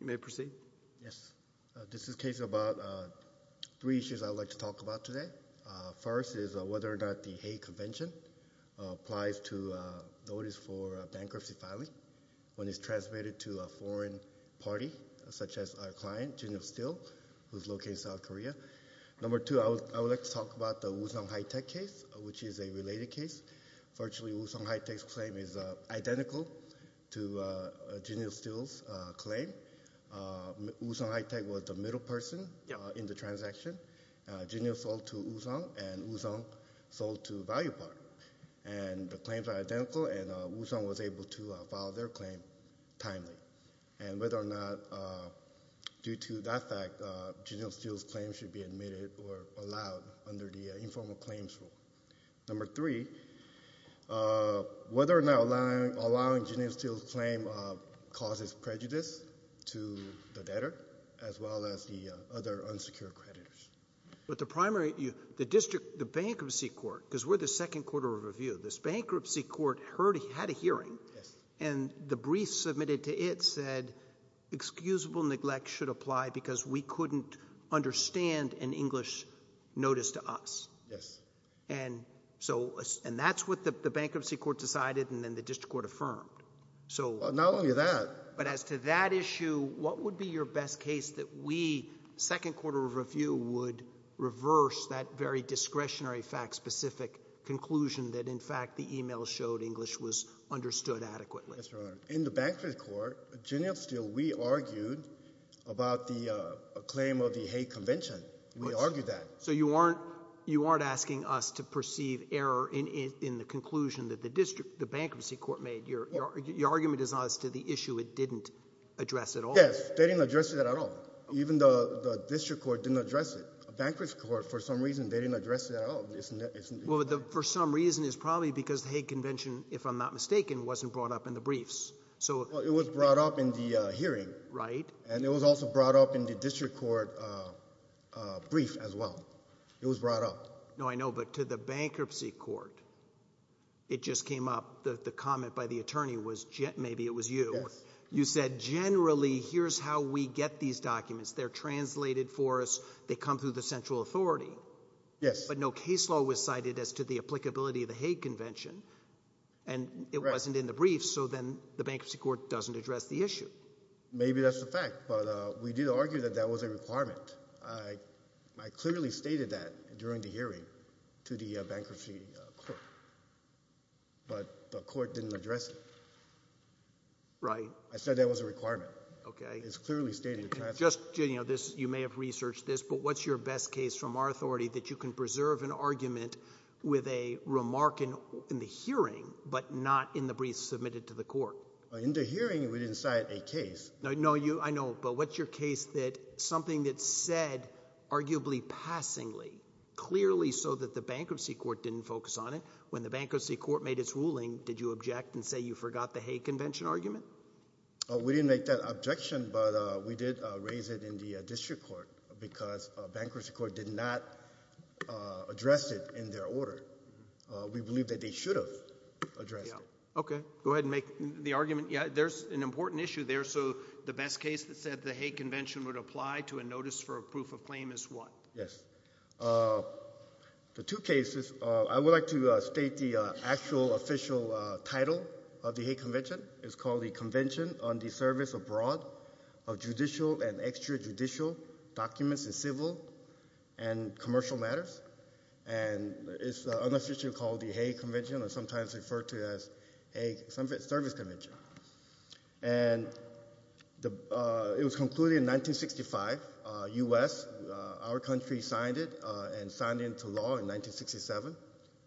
You may proceed. This is a case about three issues I would like to talk about today. First is whether or not the Hague Convention applies to notice for bankruptcy filing when it's transmitted to a foreign party, such as our client, Jinil Steel, who's located in South Korea. Number two, I would like to talk about the Woosung Hitech case, which is a related case. Virtually, Woosung Hitech's claim is identical to Jinil Steel's claim. Woosung Hitech was the middle person in the transaction. Jinil sold to Woosung, and Woosung sold to Valuepart, and the claims are identical, and Woosung was able to file their claim timely. And whether or not, due to that fact, Jinil Steel's claim should be admitted or allowed under the informal claims rule. Number three, whether or not allowing Jinil Steel's claim causes prejudice to the debtor, as well as the other unsecured creditors. But the primary, the district, the bankruptcy court, because we're the second court of review, this bankruptcy court heard, had a hearing, and the brief submitted to it said excusable neglect should apply because we couldn't understand an English notice to us. Yes. And so, and that's what the bankruptcy court decided, and then the district court affirmed. So. Well, not only that. But as to that issue, what would be your best case that we, second court of review, would reverse that very discretionary fact-specific conclusion that, in fact, the email showed English was understood adequately? In the bankruptcy court, Jinil Steel, we argued about the claim of the hate convention. We argued that. So you aren't, you aren't asking us to perceive error in the conclusion that the district, the bankruptcy court made. Your argument is not as to the issue it didn't address at all. Yes. They didn't address it at all. Even the district court didn't address it. The bankruptcy court, for some reason, they didn't address it at all. Well, for some reason, it's probably because the hate convention, if I'm not mistaken, wasn't brought up in the briefs. So. Well, it was brought up in the hearing. Right. And it was also brought up in the district court brief as well. It was brought up. No, I know. But to the bankruptcy court, it just came up, the comment by the attorney was, maybe it was you. Yes. You said, generally, here's how we get these documents. They're translated for us. They come through the central authority. Yes. But no case law was cited as to the applicability of the hate convention. And it wasn't in the briefs. So then the bankruptcy court doesn't address the issue. Maybe that's the fact. But we did argue that that was a requirement. I clearly stated that during the hearing to the bankruptcy court, but the court didn't address it. Right. I said that was a requirement. Okay. It's clearly stated in the past. Just, you know, this, you may have researched this, but what's your best case from our authority that you can preserve an argument with a remark in the hearing, but not in the briefs submitted to the court? In the hearing, we didn't cite a case. No, I know. But what's your case that something that's said, arguably, passingly, clearly so that the bankruptcy court didn't focus on it, when the bankruptcy court made its ruling, did you object and say you forgot the hate convention argument? We didn't make that objection, but we did raise it in the district court because bankruptcy court did not address it in their order. We believe that they should have addressed it. Yeah. Okay. Go ahead and make the argument. Yeah. There's an important issue there. So, the best case that said the hate convention would apply to a notice for a proof of claim is what? Yes. The two cases, I would like to state the actual official title of the hate convention. It's called the Convention on the Service Abroad of Judicial and Extrajudicial Documents in Civil and Commercial Matters, and it's unofficially called the hate convention or sometimes referred to as a service convention. And it was concluded in 1965, U.S., our country signed it and signed into law in 1967.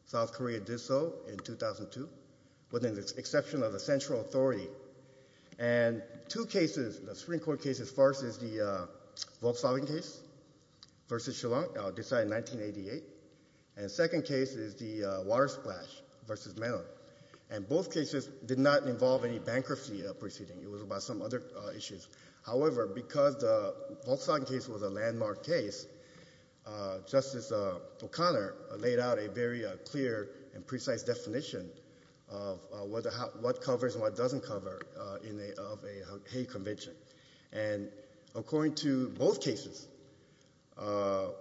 South Korea did so in 2002, with the exception of the central authority. And two cases, the Supreme Court cases, first is the Volkswagen case versus Shillong, decided in 1988. And the second case is the water splash versus Mellon. And both cases did not involve any bankruptcy proceeding, it was about some other issues. However, because the Volkswagen case was a landmark case, Justice O'Connor laid out a very clear and precise definition of what covers and what doesn't cover of a hate convention. And according to both cases, it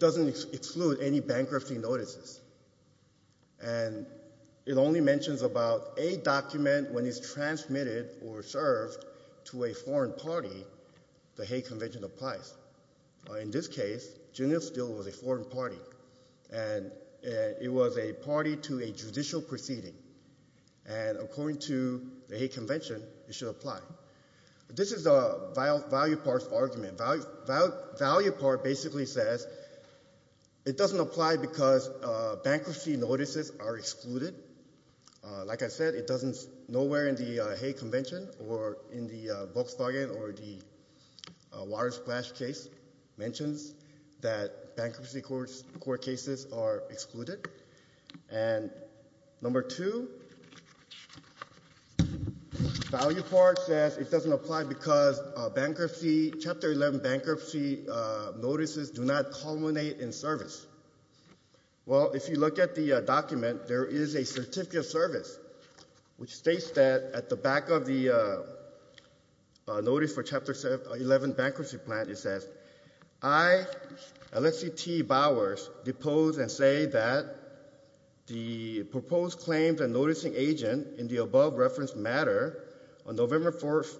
doesn't exclude any bankruptcy notices. And it only mentions about a document when it's transmitted or served to a foreign party, the hate convention applies. In this case, Juneau Steel was a foreign party, and it was a party to a judicial proceeding. And according to the hate convention, it should apply. This is a value part argument. Value part basically says it doesn't apply because bankruptcy notices are excluded. Like I said, it doesn't, nowhere in the hate convention or in the Volkswagen or the water splash case mentions that bankruptcy court cases are excluded. And number two, value part says it doesn't apply because bankruptcy, Chapter 11 bankruptcy notices do not culminate in service. Well, if you look at the document, there is a certificate of service, which states that at the back of the notice for Chapter 11 bankruptcy plan, it says, I, LCT Bowers, depose and say that the proposed claims and noticing agent in the above reference matter on November 4th,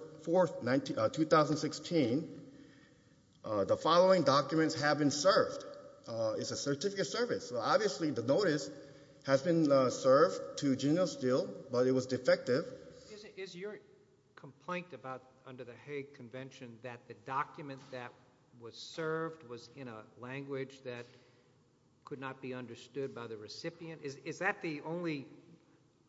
2016, the following documents have been served. It's a certificate of service. So obviously the notice has been served to Juneau Steel, but it was defective. Is your complaint about under the hate convention that the document that was served was in a way misunderstood by the recipient? Is that the only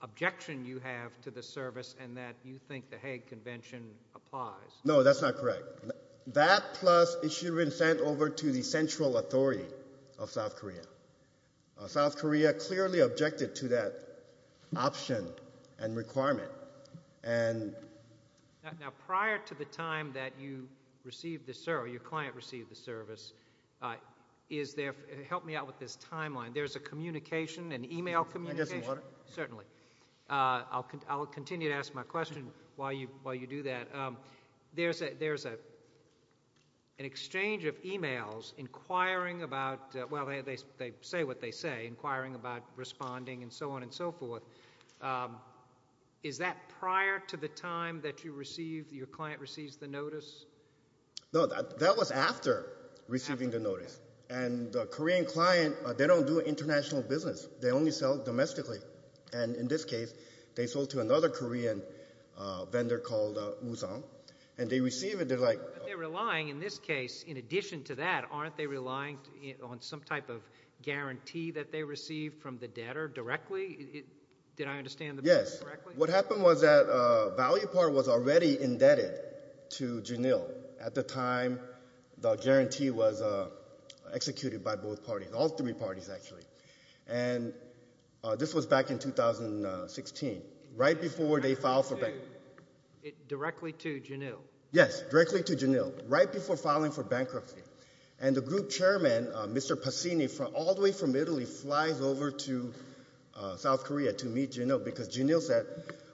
objection you have to the service and that you think the hate convention applies? No, that's not correct. That plus it should have been sent over to the central authority of South Korea. South Korea clearly objected to that option and requirement. And now prior to the time that you received the, sir, your client received the service, is there, help me out with this timeline. There's a communication, an email communication. Can I get some water? Certainly. I'll continue to ask my question while you do that. There's an exchange of emails inquiring about, well, they say what they say, inquiring about responding and so on and so forth. Is that prior to the time that you received, your client receives the notice? No, that was after receiving the notice. And the Korean client, they don't do international business. They only sell domestically. And in this case, they sold to another Korean vendor called Woo Sung. And they receive it, they're like. But they're relying, in this case, in addition to that, aren't they relying on some type of guarantee that they receive from the debtor directly? Did I understand the question correctly? Yes. What happened was that ValuePart was already indebted to Janil at the time the guarantee was executed by both parties, all three parties actually. And this was back in 2016, right before they filed for bankruptcy. Directly to Janil? Yes, directly to Janil, right before filing for bankruptcy. And the group chairman, Mr. Passini, all the way from Italy, flies over to South Korea to meet Janil because Janil said,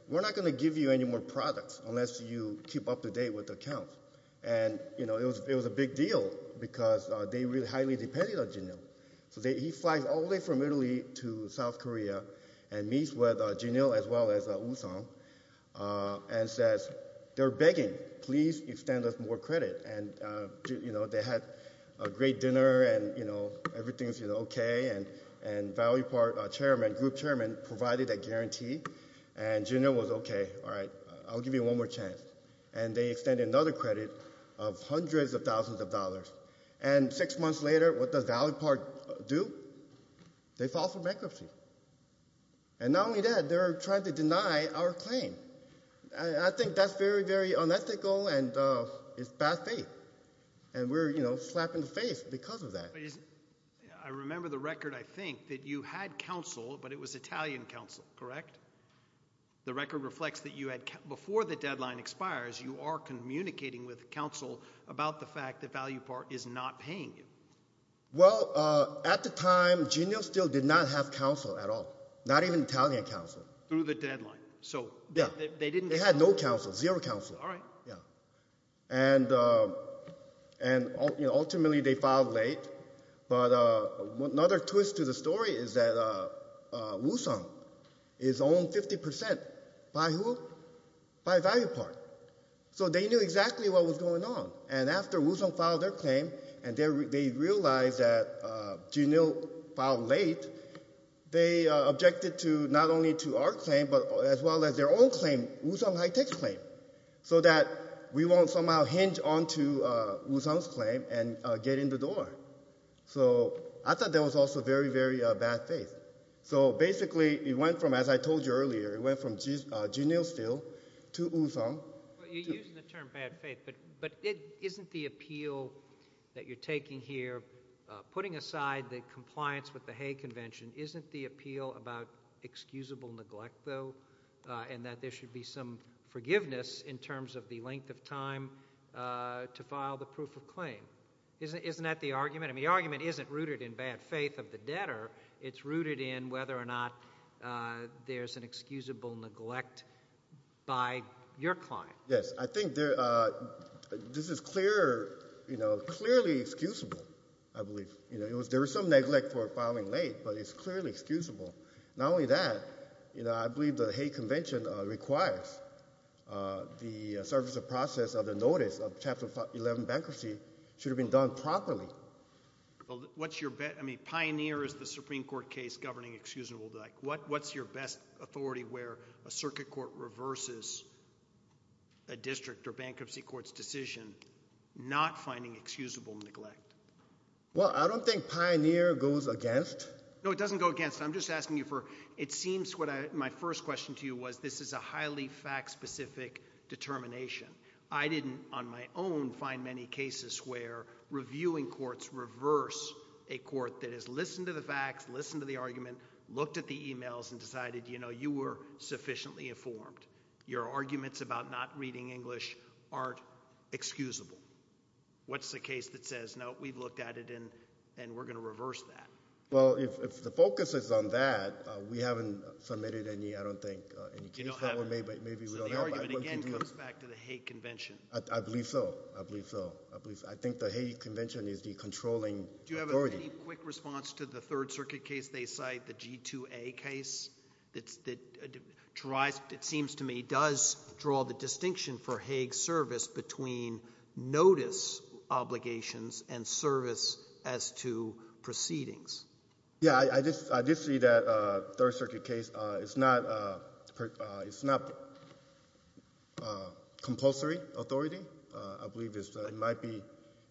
we're not going to give you any more products unless you keep up to date with the accounts. And it was a big deal because they really highly depended on Janil. So he flies all the way from Italy to South Korea and meets with Janil as well as Woo Sung and says, they're begging, please extend us more credit. And they had a great dinner and everything's OK. And ValuePart group chairman provided a guarantee and Janil was, OK, all right, I'll give you one more chance. And they extended another credit of hundreds of thousands of dollars. And six months later, what does ValuePart do? They file for bankruptcy. And not only that, they're trying to deny our claim. I think that's very, very unethical and it's bad faith. And we're, you know, slapped in the face because of that. I remember the record, I think, that you had counsel, but it was Italian counsel, correct? The record reflects that you had, before the deadline expires, you are communicating with counsel about the fact that ValuePart is not paying you. Well, at the time, Janil still did not have counsel at all, not even Italian counsel. Through the deadline. So they didn't. They had no counsel, zero counsel. All right. Yeah. And, you know, ultimately they filed late. But another twist to the story is that Woosung is owned 50% by who? By ValuePart. So they knew exactly what was going on. And after Woosung filed their claim and they realized that Janil filed late, they objected to, not only to our claim, but as well as their own claim, Woosung High Tech's claim, so that we won't somehow hinge onto Woosung's claim and get in the door. So I thought that was also very, very bad faith. So basically it went from, as I told you earlier, it went from Janil still to Woosung. You're using the term bad faith, but isn't the appeal that you're taking here, putting aside the compliance with the Hague Convention, isn't the appeal about excusable neglect, though, and that there should be some forgiveness in terms of the length of time to file the proof of claim? Isn't that the argument? I mean, the argument isn't rooted in bad faith of the debtor. It's rooted in whether or not there's an excusable neglect by your client. Yes. I think this is clearly excusable, I believe. There was some neglect for filing late, but it's clearly excusable. Not only that, I believe the Hague Convention requires the surface of process of the notice of Chapter 11 bankruptcy should have been done properly. What's your best, I mean, pioneer is the Supreme Court case governing excusable debt. What's your best authority where a circuit court reverses a district or bankruptcy court's decision not finding excusable neglect? Well, I don't think pioneer goes against. No, it doesn't go against. I'm just asking you for, it seems what my first question to you was, this is a highly fact-specific determination. I didn't, on my own, find many cases where reviewing courts reverse a court that has you know, you were sufficiently informed. Your arguments about not reading English aren't excusable. What's the case that says, no, we've looked at it and we're going to reverse that? Well, if the focus is on that, we haven't submitted any, I don't think, any cases. You don't have them? Maybe we don't have them. So the argument, again, comes back to the Hague Convention. I believe so. I believe so. I believe, I think the Hague Convention is the controlling authority. Do you have any quick response to the Third Circuit case they cite, the G-2A case, that tries, it seems to me, does draw the distinction for Hague's service between notice obligations and service as to proceedings? Yeah, I just see that Third Circuit case, it's not, it's not compulsory authority. I believe it's, it might be,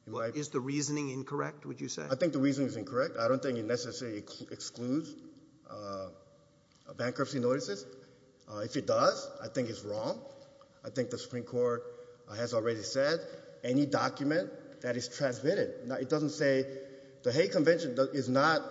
it might be. Is the reasoning incorrect, would you say? I think the reasoning is incorrect. I don't think it necessarily excludes bankruptcy notices. If it does, I think it's wrong. I think the Supreme Court has already said any document that is transmitted, it doesn't say, the Hague Convention is not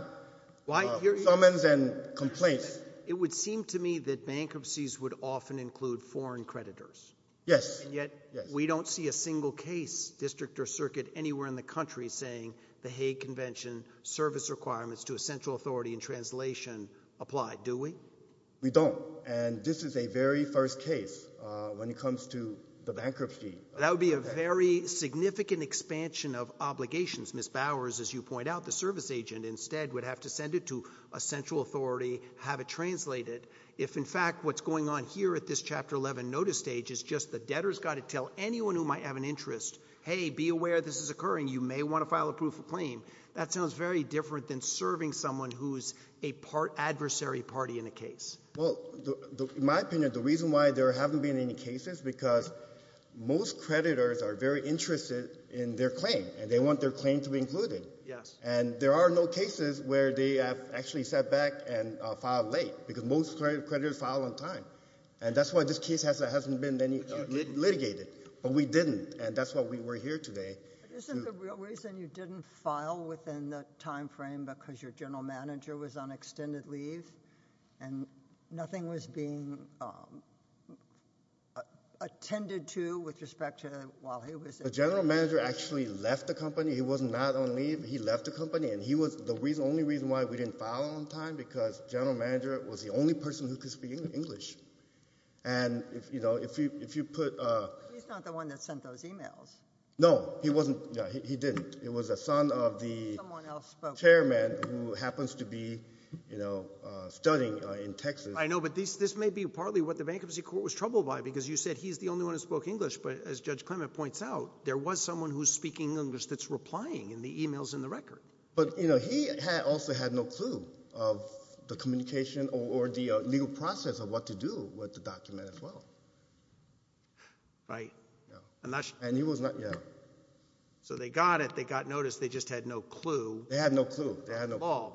summons and complaints. It would seem to me that bankruptcies would often include foreign creditors. Yes. And yet, we don't see a single case, district or circuit, anywhere in the country saying the Hague Convention service requirements to a central authority in translation apply, do we? We don't. And this is a very first case when it comes to the bankruptcy. That would be a very significant expansion of obligations. Ms. Bowers, as you point out, the service agent instead would have to send it to a central authority, have it translated, if in fact what's going on here at this Chapter 11 notice stage is just the debtor's got to tell anyone who might have an interest, hey, be aware this is occurring. You may want to file a proof of claim. That sounds very different than serving someone who is a part adversary party in a case. Well, in my opinion, the reason why there haven't been any cases, because most creditors are very interested in their claim, and they want their claim to be included. Yes. And there are no cases where they have actually sat back and filed late, because most creditors file on time. And that's why this case hasn't been litigated. But we didn't. And that's why we were here today. But isn't the real reason you didn't file within the time frame because your general manager was on extended leave, and nothing was being attended to with respect to while he was there? The general manager actually left the company. He was not on leave. He left the company. And he was the only reason why we didn't file on time, because general manager was the only person who could speak English. And if you put... He's not the one that sent those emails. No. He wasn't. He didn't. It was a son of the chairman who happens to be studying in Texas. I know. But this may be partly what the bankruptcy court was troubled by, because you said he's the only one who spoke English. But as Judge Clement points out, there was someone who's speaking English that's replying in the emails in the record. But he also had no clue of the communication or the legal process of what to do with the document as well. Right. Yeah. And that's... And he was not... Yeah. So they got it. They got notice. They just had no clue. They had no clue. They had no... On the law.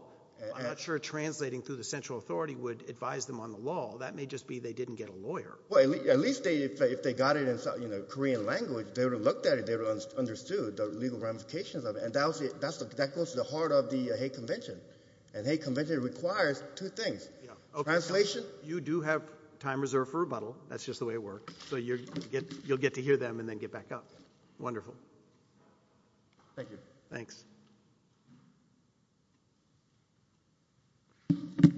I'm not sure translating through the central authority would advise them on the law. That may just be they didn't get a lawyer. Well, at least if they got it in Korean language, they would have looked at it, they would have understood the legal ramifications of it. And that goes to the heart of the hate convention. And hate convention requires two things. Translation... You do have time reserved for rebuttal. That's just the way it works. So you'll get to hear them and then get back up. Wonderful. Thank you. Thanks. Good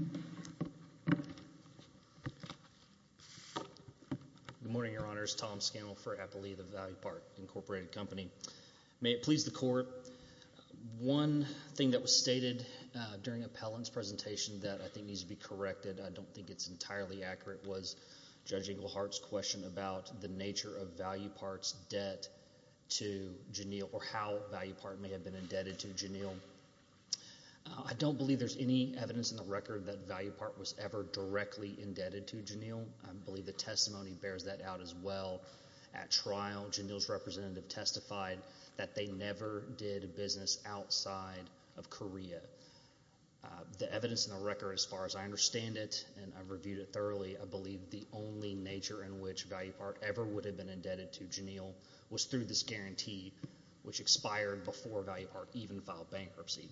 morning, Your Honors. Tom Scannell for Appley, the Valley Park Incorporated Company. May it please the Court. One thing that was stated during Appellant's presentation that I think needs to be corrected, I don't think it's entirely accurate, was Judge Englehart's question about the nature of Valley Park's debt to Janille or how Valley Park may have been indebted to Janille. I don't believe there's any evidence in the record that Valley Park was ever directly indebted to Janille. I believe the testimony bears that out as well. At trial, Janille's representative testified that they never did business outside of Korea. The evidence in the record, as far as I understand it, and I've reviewed it thoroughly, I believe the only nature in which Valley Park ever would have been indebted to Janille was through this guarantee, which expired before Valley Park even filed bankruptcy.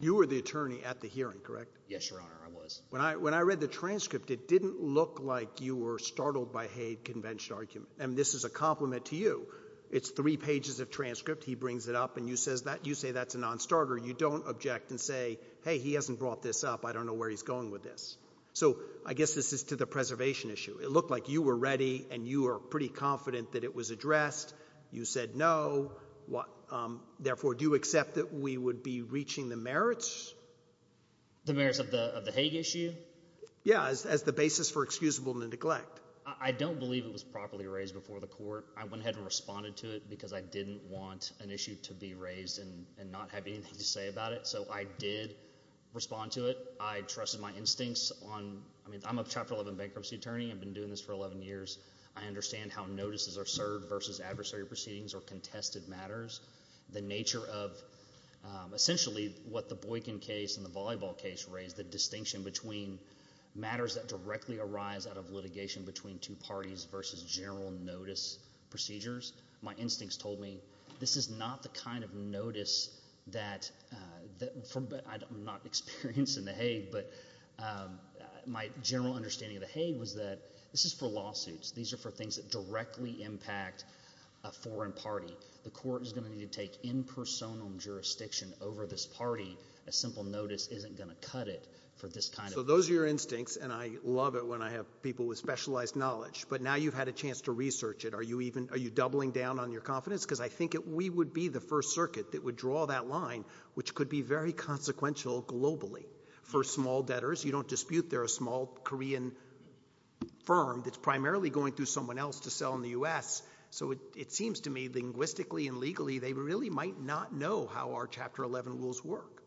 You were the attorney at the hearing, correct? Yes, Your Honor, I was. When I read the transcript, it didn't look like you were startled by hate convention argument, and this is a compliment to you. It's three pages of transcript, he brings it up, and you say that's a non-starter. You don't object and say, hey, he hasn't brought this up, I don't know where he's going with this. So, I guess this is to the preservation issue. It looked like you were ready and you were pretty confident that it was addressed. You said no, therefore do you accept that we would be reaching the merits? The merits of the Hague issue? Yeah, as the basis for excusable neglect. I don't believe it was properly raised before the court. I went ahead and responded to it because I didn't want an issue to be raised and not have anything to say about it, so I did respond to it. I trusted my instincts on, I mean, I'm a Chapter 11 bankruptcy attorney, I've been doing this for 11 years. I understand how notices are served versus adversary proceedings or contested matters. The nature of, essentially, what the Boykin case and the Volleyball case raised, the distinction between matters that directly arise out of litigation between two parties versus general notice procedures. My instincts told me this is not the kind of notice that, I'm not experienced in the Hague, but my general understanding of the Hague was that this is for lawsuits. These are for things that directly impact a foreign party. The court is going to need to take in personam jurisdiction over this party. A simple notice isn't going to cut it for this kind of— So those are your instincts, and I love it when I have people with specialized knowledge, but now you've had a chance to research it. Are you even, are you doubling down on your confidence? Because I think we would be the first circuit that would draw that line, which could be very consequential globally for small debtors. You don't dispute they're a small Korean firm that's primarily going through someone else to sell in the U.S. So it seems to me, linguistically and legally, they really might not know how our Chapter 11 rules work.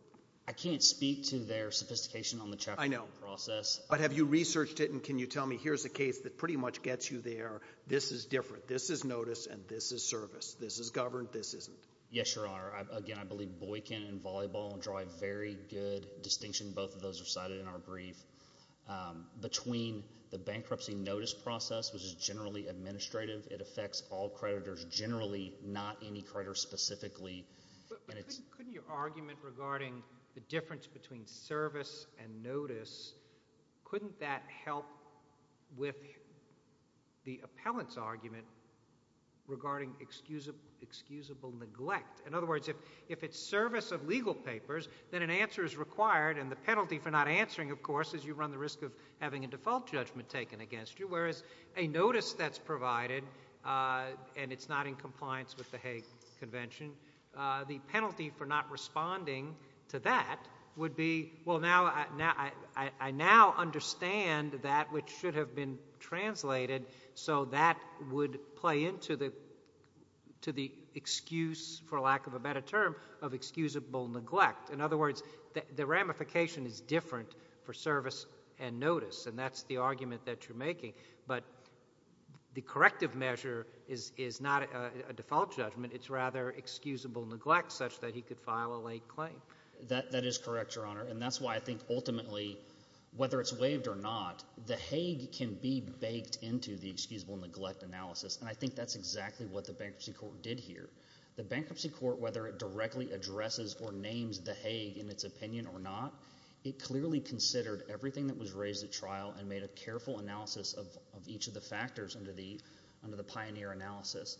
I can't speak to their sophistication on the Chapter 11 process. But have you researched it, and can you tell me, here's a case that pretty much gets you there. This is different. This is notice, and this is service. This is governed. This isn't. Yes, Your Honor. Again, I believe Boykin and Volleyball draw a very good distinction. Both of those are cited in our brief. Between the bankruptcy notice process, which is generally administrative, it affects all creditors generally, not any creditors specifically. But couldn't your argument regarding the difference between service and notice, couldn't that help with the appellant's argument regarding excusable neglect? In other words, if it's service of legal papers, then an answer is required, and the penalty for not answering, of course, is you run the risk of having a default judgment taken against you, whereas a notice that's provided, and it's not in compliance with the Hague Convention, the penalty for not responding to that would be, well, I now understand that which should have been translated, so that would play into the excuse, for lack of a better term, of excusable neglect. In other words, the ramification is different for service and notice, and that's the argument that you're making. But the corrective measure is not a default judgment. It's rather excusable neglect, such that he could file a late claim. That is correct, Your Honor. And that's why I think ultimately, whether it's waived or not, the Hague can be baked into the excusable neglect analysis, and I think that's exactly what the Bankruptcy Court did here. The Bankruptcy Court, whether it directly addresses or names the Hague in its opinion or not, it clearly considered everything that was raised at trial and made a careful analysis of each of the factors under the pioneer analysis.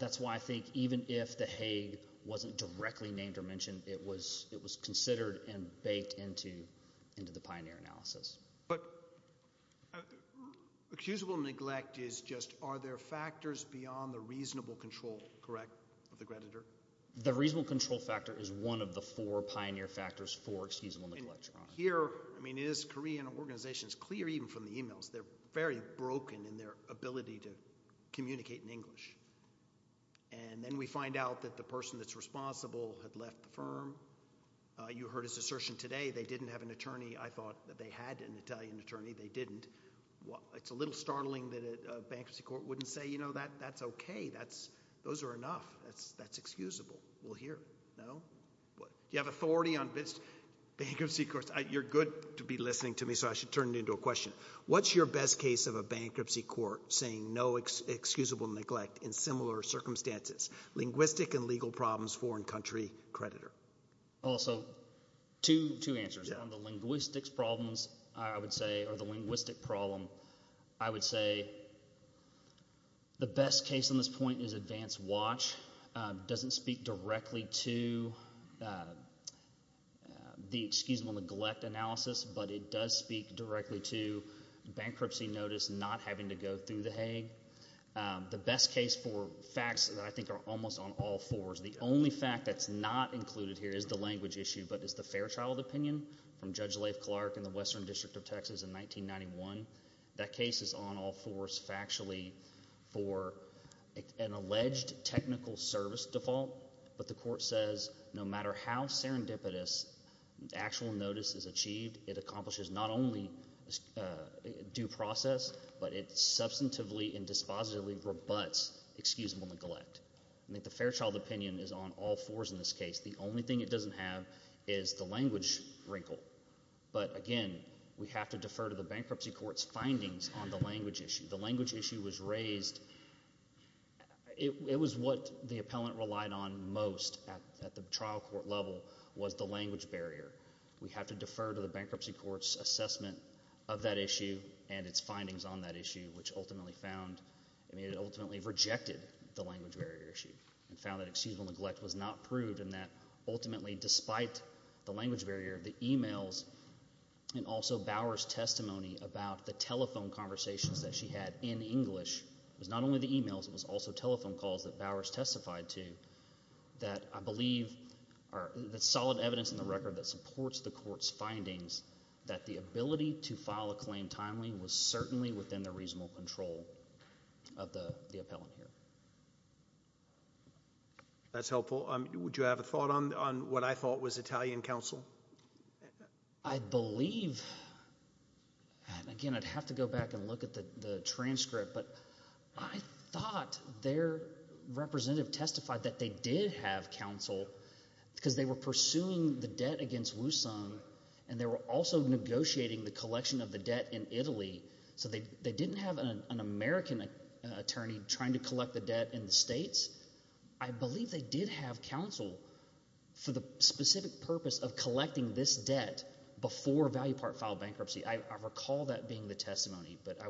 That's why I think even if the Hague wasn't directly named or mentioned, it was considered and baked into the pioneer analysis. But excusable neglect is just, are there factors beyond the reasonable control, correct, of the creditor? The reasonable control factor is one of the four pioneer factors for excusable neglect, Your Honor. Here, I mean, it is Korean organizations, clear even from the e-mails, they're very broken in their ability to communicate in English. And then we find out that the person that's responsible had left the firm. You heard his assertion today, they didn't have an attorney. I thought that they had an Italian attorney. They didn't. It's a little startling that a Bankruptcy Court wouldn't say, you know, that's okay. Those are enough. That's excusable. We'll hear. No? Do you have authority on Bankruptcy Courts? You're good to be listening to me, so I should turn it into a question. What's your best case of a Bankruptcy Court saying no excusable neglect in similar circumstances? Linguistic and legal problems, foreign country, creditor. Also, two answers on the linguistics problems, I would say, or the linguistic problem. I would say the best case on this point is Advance Watch. Doesn't speak directly to the excusable neglect analysis, but it does speak directly to bankruptcy notice not having to go through the Hague. The best case for facts that I think are almost on all fours, the only fact that's not included here is the language issue, but it's the Fairchild opinion from Judge Leif Clark in the Western That case is on all fours factually for an alleged technical service default, but the court says no matter how serendipitous the actual notice is achieved, it accomplishes not only due process, but it substantively and dispositively rebuts excusable neglect. I think the Fairchild opinion is on all fours in this case. The only thing it doesn't have is the language wrinkle. But again, we have to defer to the bankruptcy court's findings on the language issue. The language issue was raised, it was what the appellant relied on most at the trial court level was the language barrier. We have to defer to the bankruptcy court's assessment of that issue and its findings on that issue, which ultimately found, it ultimately rejected the language barrier issue and found that excusable neglect was not proved and that ultimately despite the language barrier, the emails and also Bower's testimony about the telephone conversations that she had in English was not only the emails, it was also telephone calls that Bower's testified to that I believe are the solid evidence in the record that supports the court's findings that the ability to file a claim timely was certainly within the reasonable control of the appellant here. That's helpful. Would you have a thought on what I thought was Italian counsel? I believe, and again I'd have to go back and look at the transcript, but I thought their representative testified that they did have counsel because they were pursuing the debt against Wusong and they were also negotiating the collection of the debt in Italy. So they didn't have an American attorney trying to collect the debt in the States. I believe they did have counsel for the specific purpose of collecting this debt before Value Part filed bankruptcy. I recall that being the testimony, but I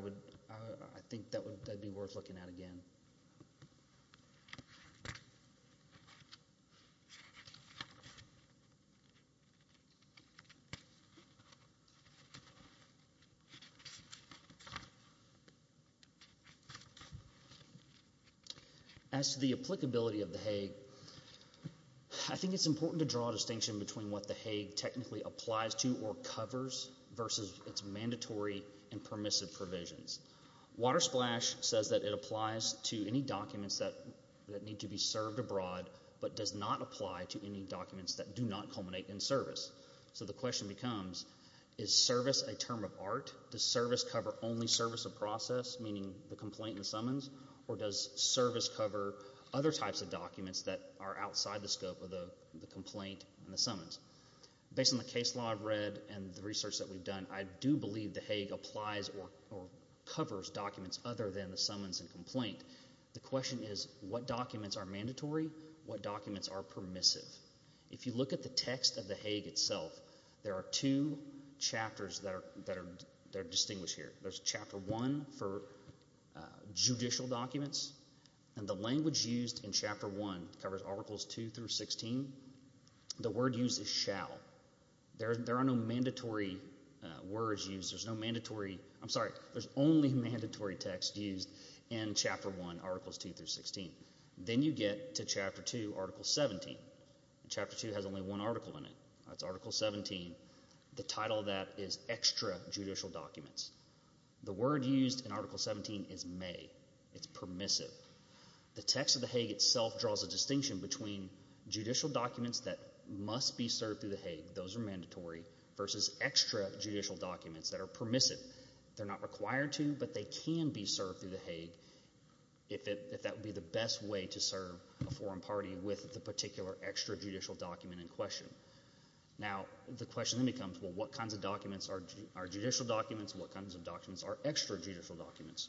think that would be worth looking at again. As to the applicability of the Hague, I think it's important to draw a distinction between what the Hague technically applies to or covers versus its mandatory and permissive provisions. Water Splash says that it applies to any documents that need to be served abroad, but does not apply to any documents that do not culminate in service. So the question becomes, is service a term of art? Does service cover only service of process, meaning the complaint and summons? Or does service cover other types of documents that are outside the scope of the complaint and the summons? Based on the case law I've read and the research that we've done, I do believe the Hague applies or covers documents other than the summons and complaint. The question is, what documents are mandatory? What documents are permissive? If you look at the text of the Hague itself, there are two chapters that are distinguished here. There's chapter one for judicial documents, and the language used in chapter one covers articles two through sixteen. The word used is shall. There are no mandatory words used, there's no mandatory, I'm sorry, there's only mandatory text used in chapter one, articles two through sixteen. Then you get to chapter two, article seventeen. Chapter two has only one article in it, that's article seventeen, the title of that is extra judicial documents. The word used in article seventeen is may, it's permissive. The text of the Hague itself draws a distinction between judicial documents that must be served through the Hague, those are mandatory, versus extra judicial documents that are permissive. They're not required to, but they can be served through the Hague if that would be the best way to serve a foreign party with the particular extra judicial document in question. Now the question then becomes, well what kinds of documents are judicial documents and what kinds of documents are extra judicial documents?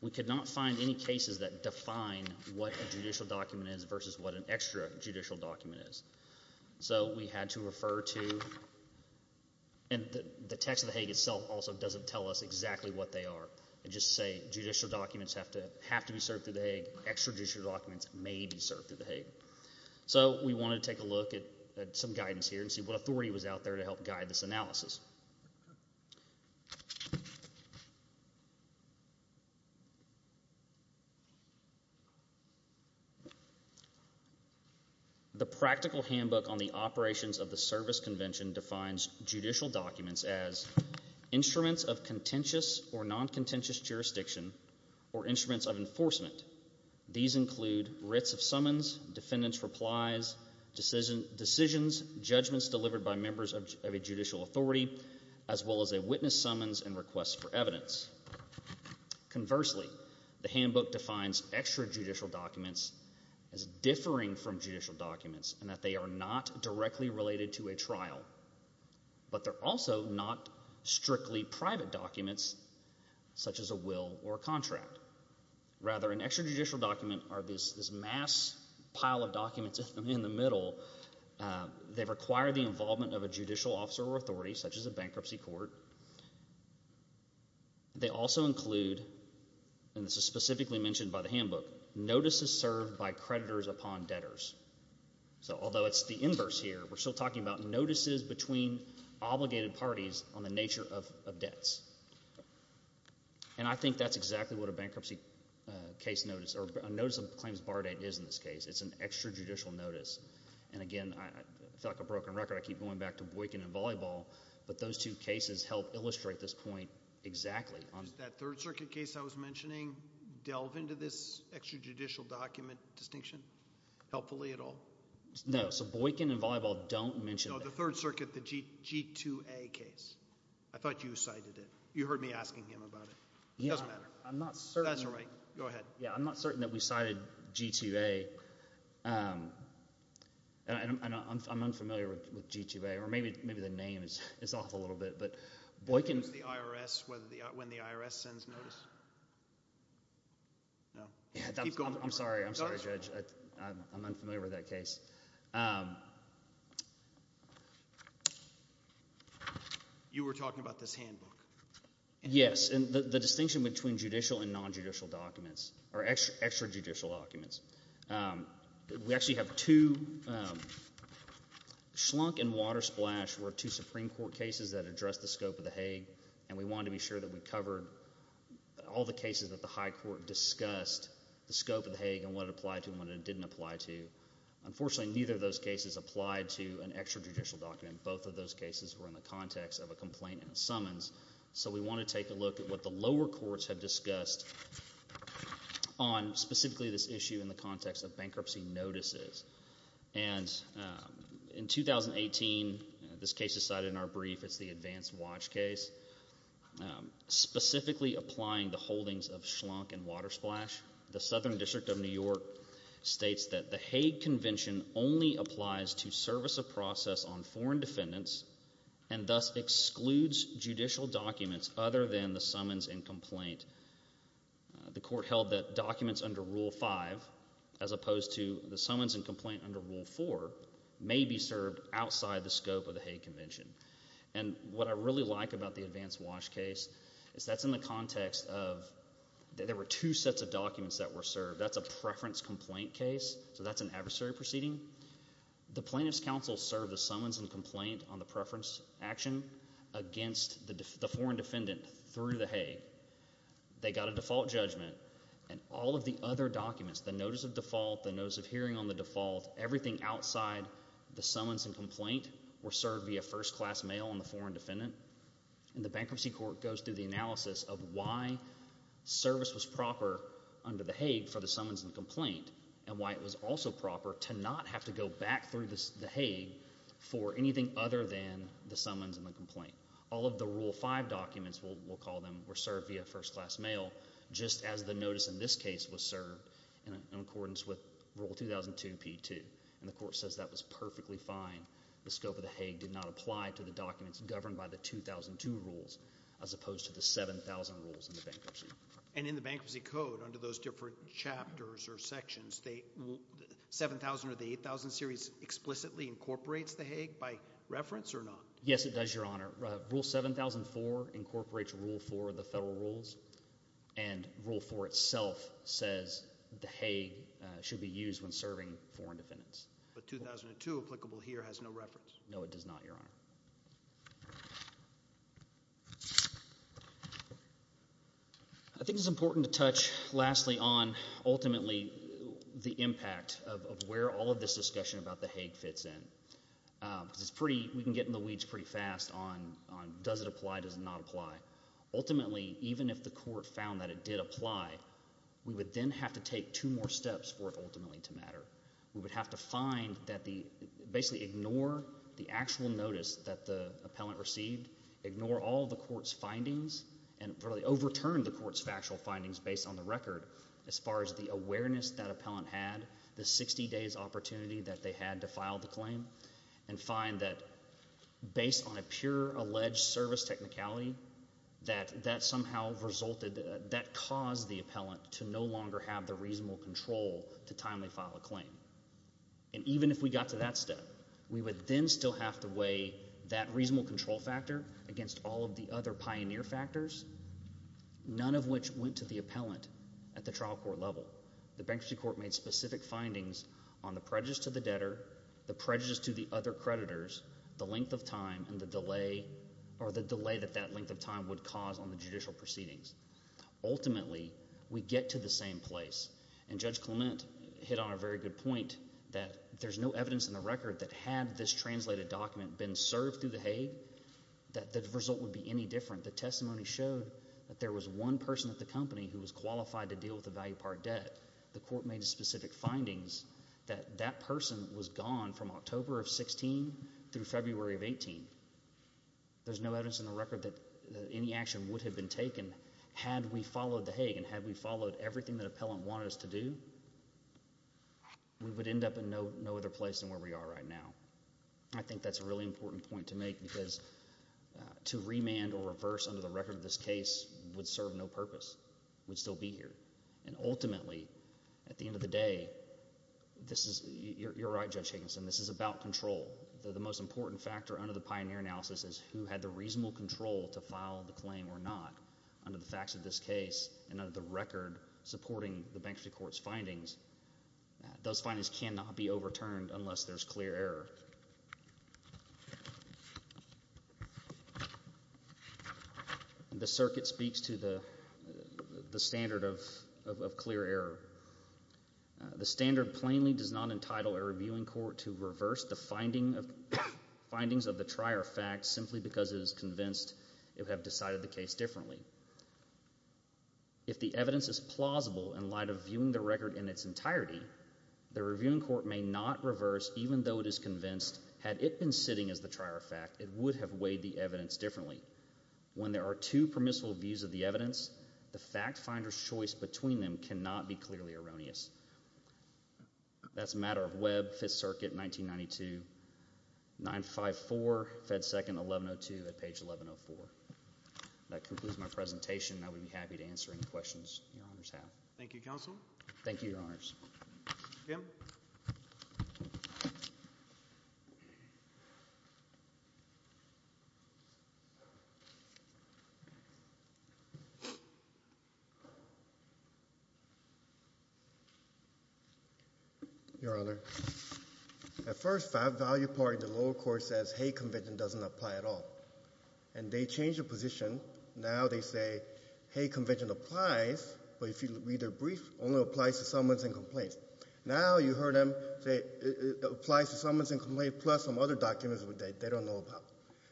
We could not find any cases that define what a judicial document is versus what an extra judicial document is. So we had to refer to, and the text of the Hague itself also doesn't tell us exactly what they are. It just says judicial documents have to be served through the Hague, extra judicial documents may be served through the Hague. So we wanted to take a look at some guidance here and see what authority was out there to help guide this analysis. The practical handbook on the operations of the service convention defines judicial documents as instruments of contentious or non-contentious jurisdiction or instruments of enforcement. These include writs of summons, defendants' replies, decisions, judgments delivered by members of a judicial authority, as well as a witness summons and requests for evidence. Conversely, the handbook defines extra judicial documents as differing from judicial documents in that they are not directly related to a trial, but they're also not strictly private documents, such as a will or a contract. Rather an extra judicial document are this mass pile of documents in the middle. They require the involvement of a judicial officer or authority, such as a bankruptcy court. They also include, and this is specifically mentioned by the handbook, notices served by creditors upon debtors. So although it's the inverse here, we're still talking about notices between obligated parties on the nature of debts. And I think that's exactly what a bankruptcy case notice, or a notice of claims bar date is in this case. It's an extra judicial notice. And again, I feel like a broken record, I keep going back to Boykin and Volleyball, but those two cases help illustrate this point exactly. Does that Third Circuit case I was mentioning delve into this extra judicial document distinction helpfully at all? No. So Boykin and Volleyball don't mention that. And the Third Circuit, the G2A case, I thought you cited it. You heard me asking him about it. It doesn't matter. I'm not certain. That's all right. Go ahead. Yeah, I'm not certain that we cited G2A. And I'm unfamiliar with G2A, or maybe the name is off a little bit, but Boykin— When the IRS sends notice. No. Keep going. I'm sorry. I'm sorry, Judge. I'm unfamiliar with that case. You were talking about this handbook. Yes. And the distinction between judicial and non-judicial documents, or extra judicial documents. We actually have two—Schlunk and Watersplash were two Supreme Court cases that addressed the scope of the Hague. And we wanted to be sure that we covered all the cases that the high court discussed, the scope of the Hague and what it applied to and what it didn't apply to. Unfortunately, neither of those cases applied to an extra judicial document. Both of those cases were in the context of a complaint and a summons. So we want to take a look at what the lower courts have discussed on specifically this issue in the context of bankruptcy notices. And in 2018, this case is cited in our brief. It's the advanced watch case, specifically applying the holdings of Schlunk and Watersplash. The Southern District of New York states that the Hague Convention only applies to service of process on foreign defendants and thus excludes judicial documents other than the summons and complaint. The court held that documents under Rule 5, as opposed to the summons and complaint under Rule 4, may be served outside the scope of the Hague Convention. And what I really like about the advanced watch case is that's in the context of—there were two sets of documents that were served. That's a preference complaint case, so that's an adversary proceeding. The plaintiff's counsel served the summons and complaint on the preference action against the foreign defendant through the Hague. They got a default judgment. And all of the other documents, the notice of default, the notice of hearing on the default, everything outside the summons and complaint were served via first-class mail on the foreign defendant. And the bankruptcy court goes through the analysis of why service was proper under the Hague for the summons and complaint and why it was also proper to not have to go back through the Hague for anything other than the summons and the complaint. All of the Rule 5 documents, we'll call them, were served via first-class mail just as the notice in this case was served in accordance with Rule 2002 P2. And the court says that was perfectly fine. The scope of the Hague did not apply to the documents governed by the 2002 rules as opposed to the 7,000 rules in the bankruptcy. And in the Bankruptcy Code, under those different chapters or sections, the 7,000 or the 8,000 series explicitly incorporates the Hague by reference or not? Yes, it does, Your Honor. Rule 7,004 incorporates Rule 4 of the federal rules. And Rule 4 itself says the Hague should be used when serving foreign defendants. But 2002, applicable here, has no reference? No, it does not, Your Honor. I think it's important to touch lastly on ultimately the impact of where all of this discussion about the Hague fits in. Because it's pretty, we can get in the weeds pretty fast on does it apply, does it not apply. Ultimately, even if the court found that it did apply, we would then have to take two more steps for it ultimately to matter. We would have to find that the, basically ignore the actual notice that the appellant received, ignore all of the court's findings, and really overturn the court's factual findings based on the record as far as the awareness that appellant had, the 60 days opportunity that they had to file the claim, and find that based on a pure alleged service technicality, that that somehow resulted, that caused the appellant to no longer have the reasonable control to timely file a claim. And even if we got to that step, we would then still have to weigh that reasonable control factor against all of the other pioneer factors, none of which went to the appellant at the trial court level. The bankruptcy court made specific findings on the prejudice to the debtor, the prejudice to the other creditors, the length of time, and the delay, or the delay that that length of time would cause on the judicial proceedings. Ultimately, we get to the same place, and Judge Clement hit on a very good point, that there's no evidence in the record that had this translated document been served through the Hague, that the result would be any different. The testimony showed that there was one person at the company who was qualified to deal with the value part debt. The court made specific findings that that person was gone from October of 16 through February of 18. There's no evidence in the record that any action would have been taken had we followed the Hague, and had we followed everything the appellant wanted us to do, we would end up in no other place than where we are right now. I think that's a really important point to make because to remand or reverse under the record of this case would serve no purpose, would still be here. And ultimately, at the end of the day, this is, you're right Judge Higginson, this is about control. The most important factor under the pioneer analysis is who had the reasonable control to file the claim or not. Under the facts of this case, and under the record supporting the Bankruptcy Court's findings, those findings cannot be overturned unless there's clear error. The circuit speaks to the standard of clear error. The standard plainly does not entitle a reviewing court to reverse the findings of the trier fact simply because it is convinced it would have decided the case differently. If the evidence is plausible in light of viewing the record in its entirety, the reviewing court may not reverse even though it is convinced, had it been sitting as the trier fact, it would have weighed the evidence differently. When there are two permissible views of the evidence, the fact finder's choice between them cannot be clearly erroneous. That's a matter of Webb, 5th Circuit, 1992, 954, Fed 2nd, 1102 at page 1104. That concludes my presentation. I would be happy to answer any questions your honors have. Thank you, counsel. Thank you, your honors. Kim? Your honor, at first 5th value part in the lower court says hate convention doesn't apply at all. And they change the position. Now they say hate convention applies, but if you read their brief, only applies to summons and complaints. Now you heard them say it applies to summons and complaints plus some other documents they don't know about.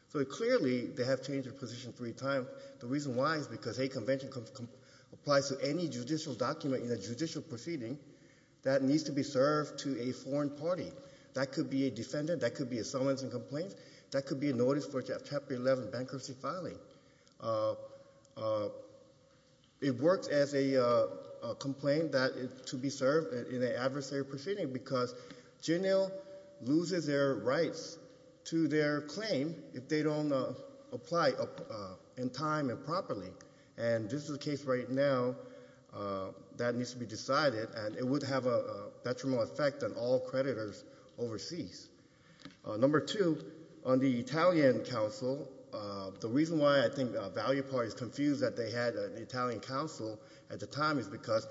So clearly they have changed their position three times. But the reason why is because hate convention applies to any judicial document in a judicial proceeding that needs to be served to a foreign party. That could be a defendant, that could be a summons and complaints, that could be a notice for chapter 11 bankruptcy filing. It works as a complaint to be served in an adversary proceeding because JNL loses their rights to their claim if they don't apply in time and properly. And this is a case right now that needs to be decided and it would have a detrimental effect on all creditors overseas. Number two, on the Italian counsel, the reason why I think value part is confused that they had an Italian counsel at the time is because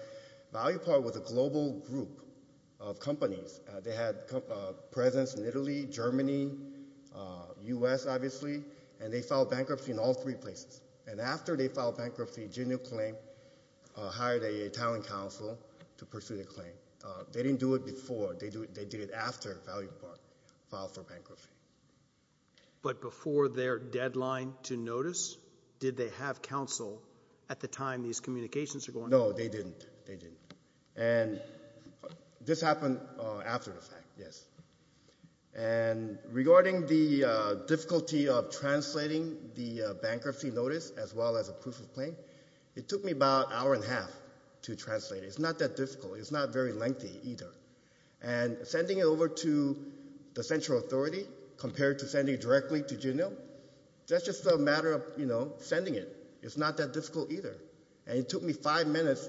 value part was a global group of companies. They had presence in Italy, Germany, U.S. obviously, and they filed bankruptcy in all three places. And after they filed bankruptcy, JNL claimed, hired an Italian counsel to pursue the claim. They didn't do it before, they did it after value part filed for bankruptcy. But before their deadline to notice, did they have counsel at the time these communications were going on? No, they didn't. And this happened after the fact, yes. And regarding the difficulty of translating the bankruptcy notice as well as a proof of claim, it took me about an hour and a half to translate. It's not that difficult. It's not very lengthy either. And sending it over to the central authority compared to sending it directly to JNL, that's just a matter of, you know, sending it. It's not that difficult either. And it took me five minutes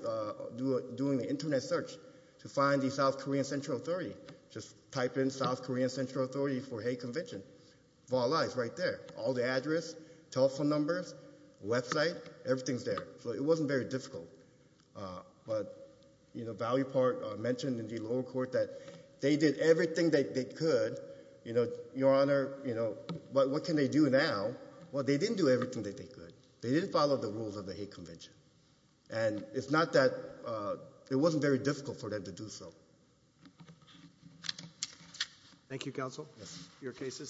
doing the internet search to find the South Korean central authority. Just type in South Korean central authority for hate convention. Voila, it's right there. All the address, telephone numbers, website, everything's there. So it wasn't very difficult. But, you know, value part mentioned in the lower court that they did everything that they could, you know, your honor, you know, what can they do now? Well, they didn't do everything that they could. They didn't follow the rules of the hate convention. And it's not that, it wasn't very difficult for them to do so. Thank you, counsel. Your case is submitted.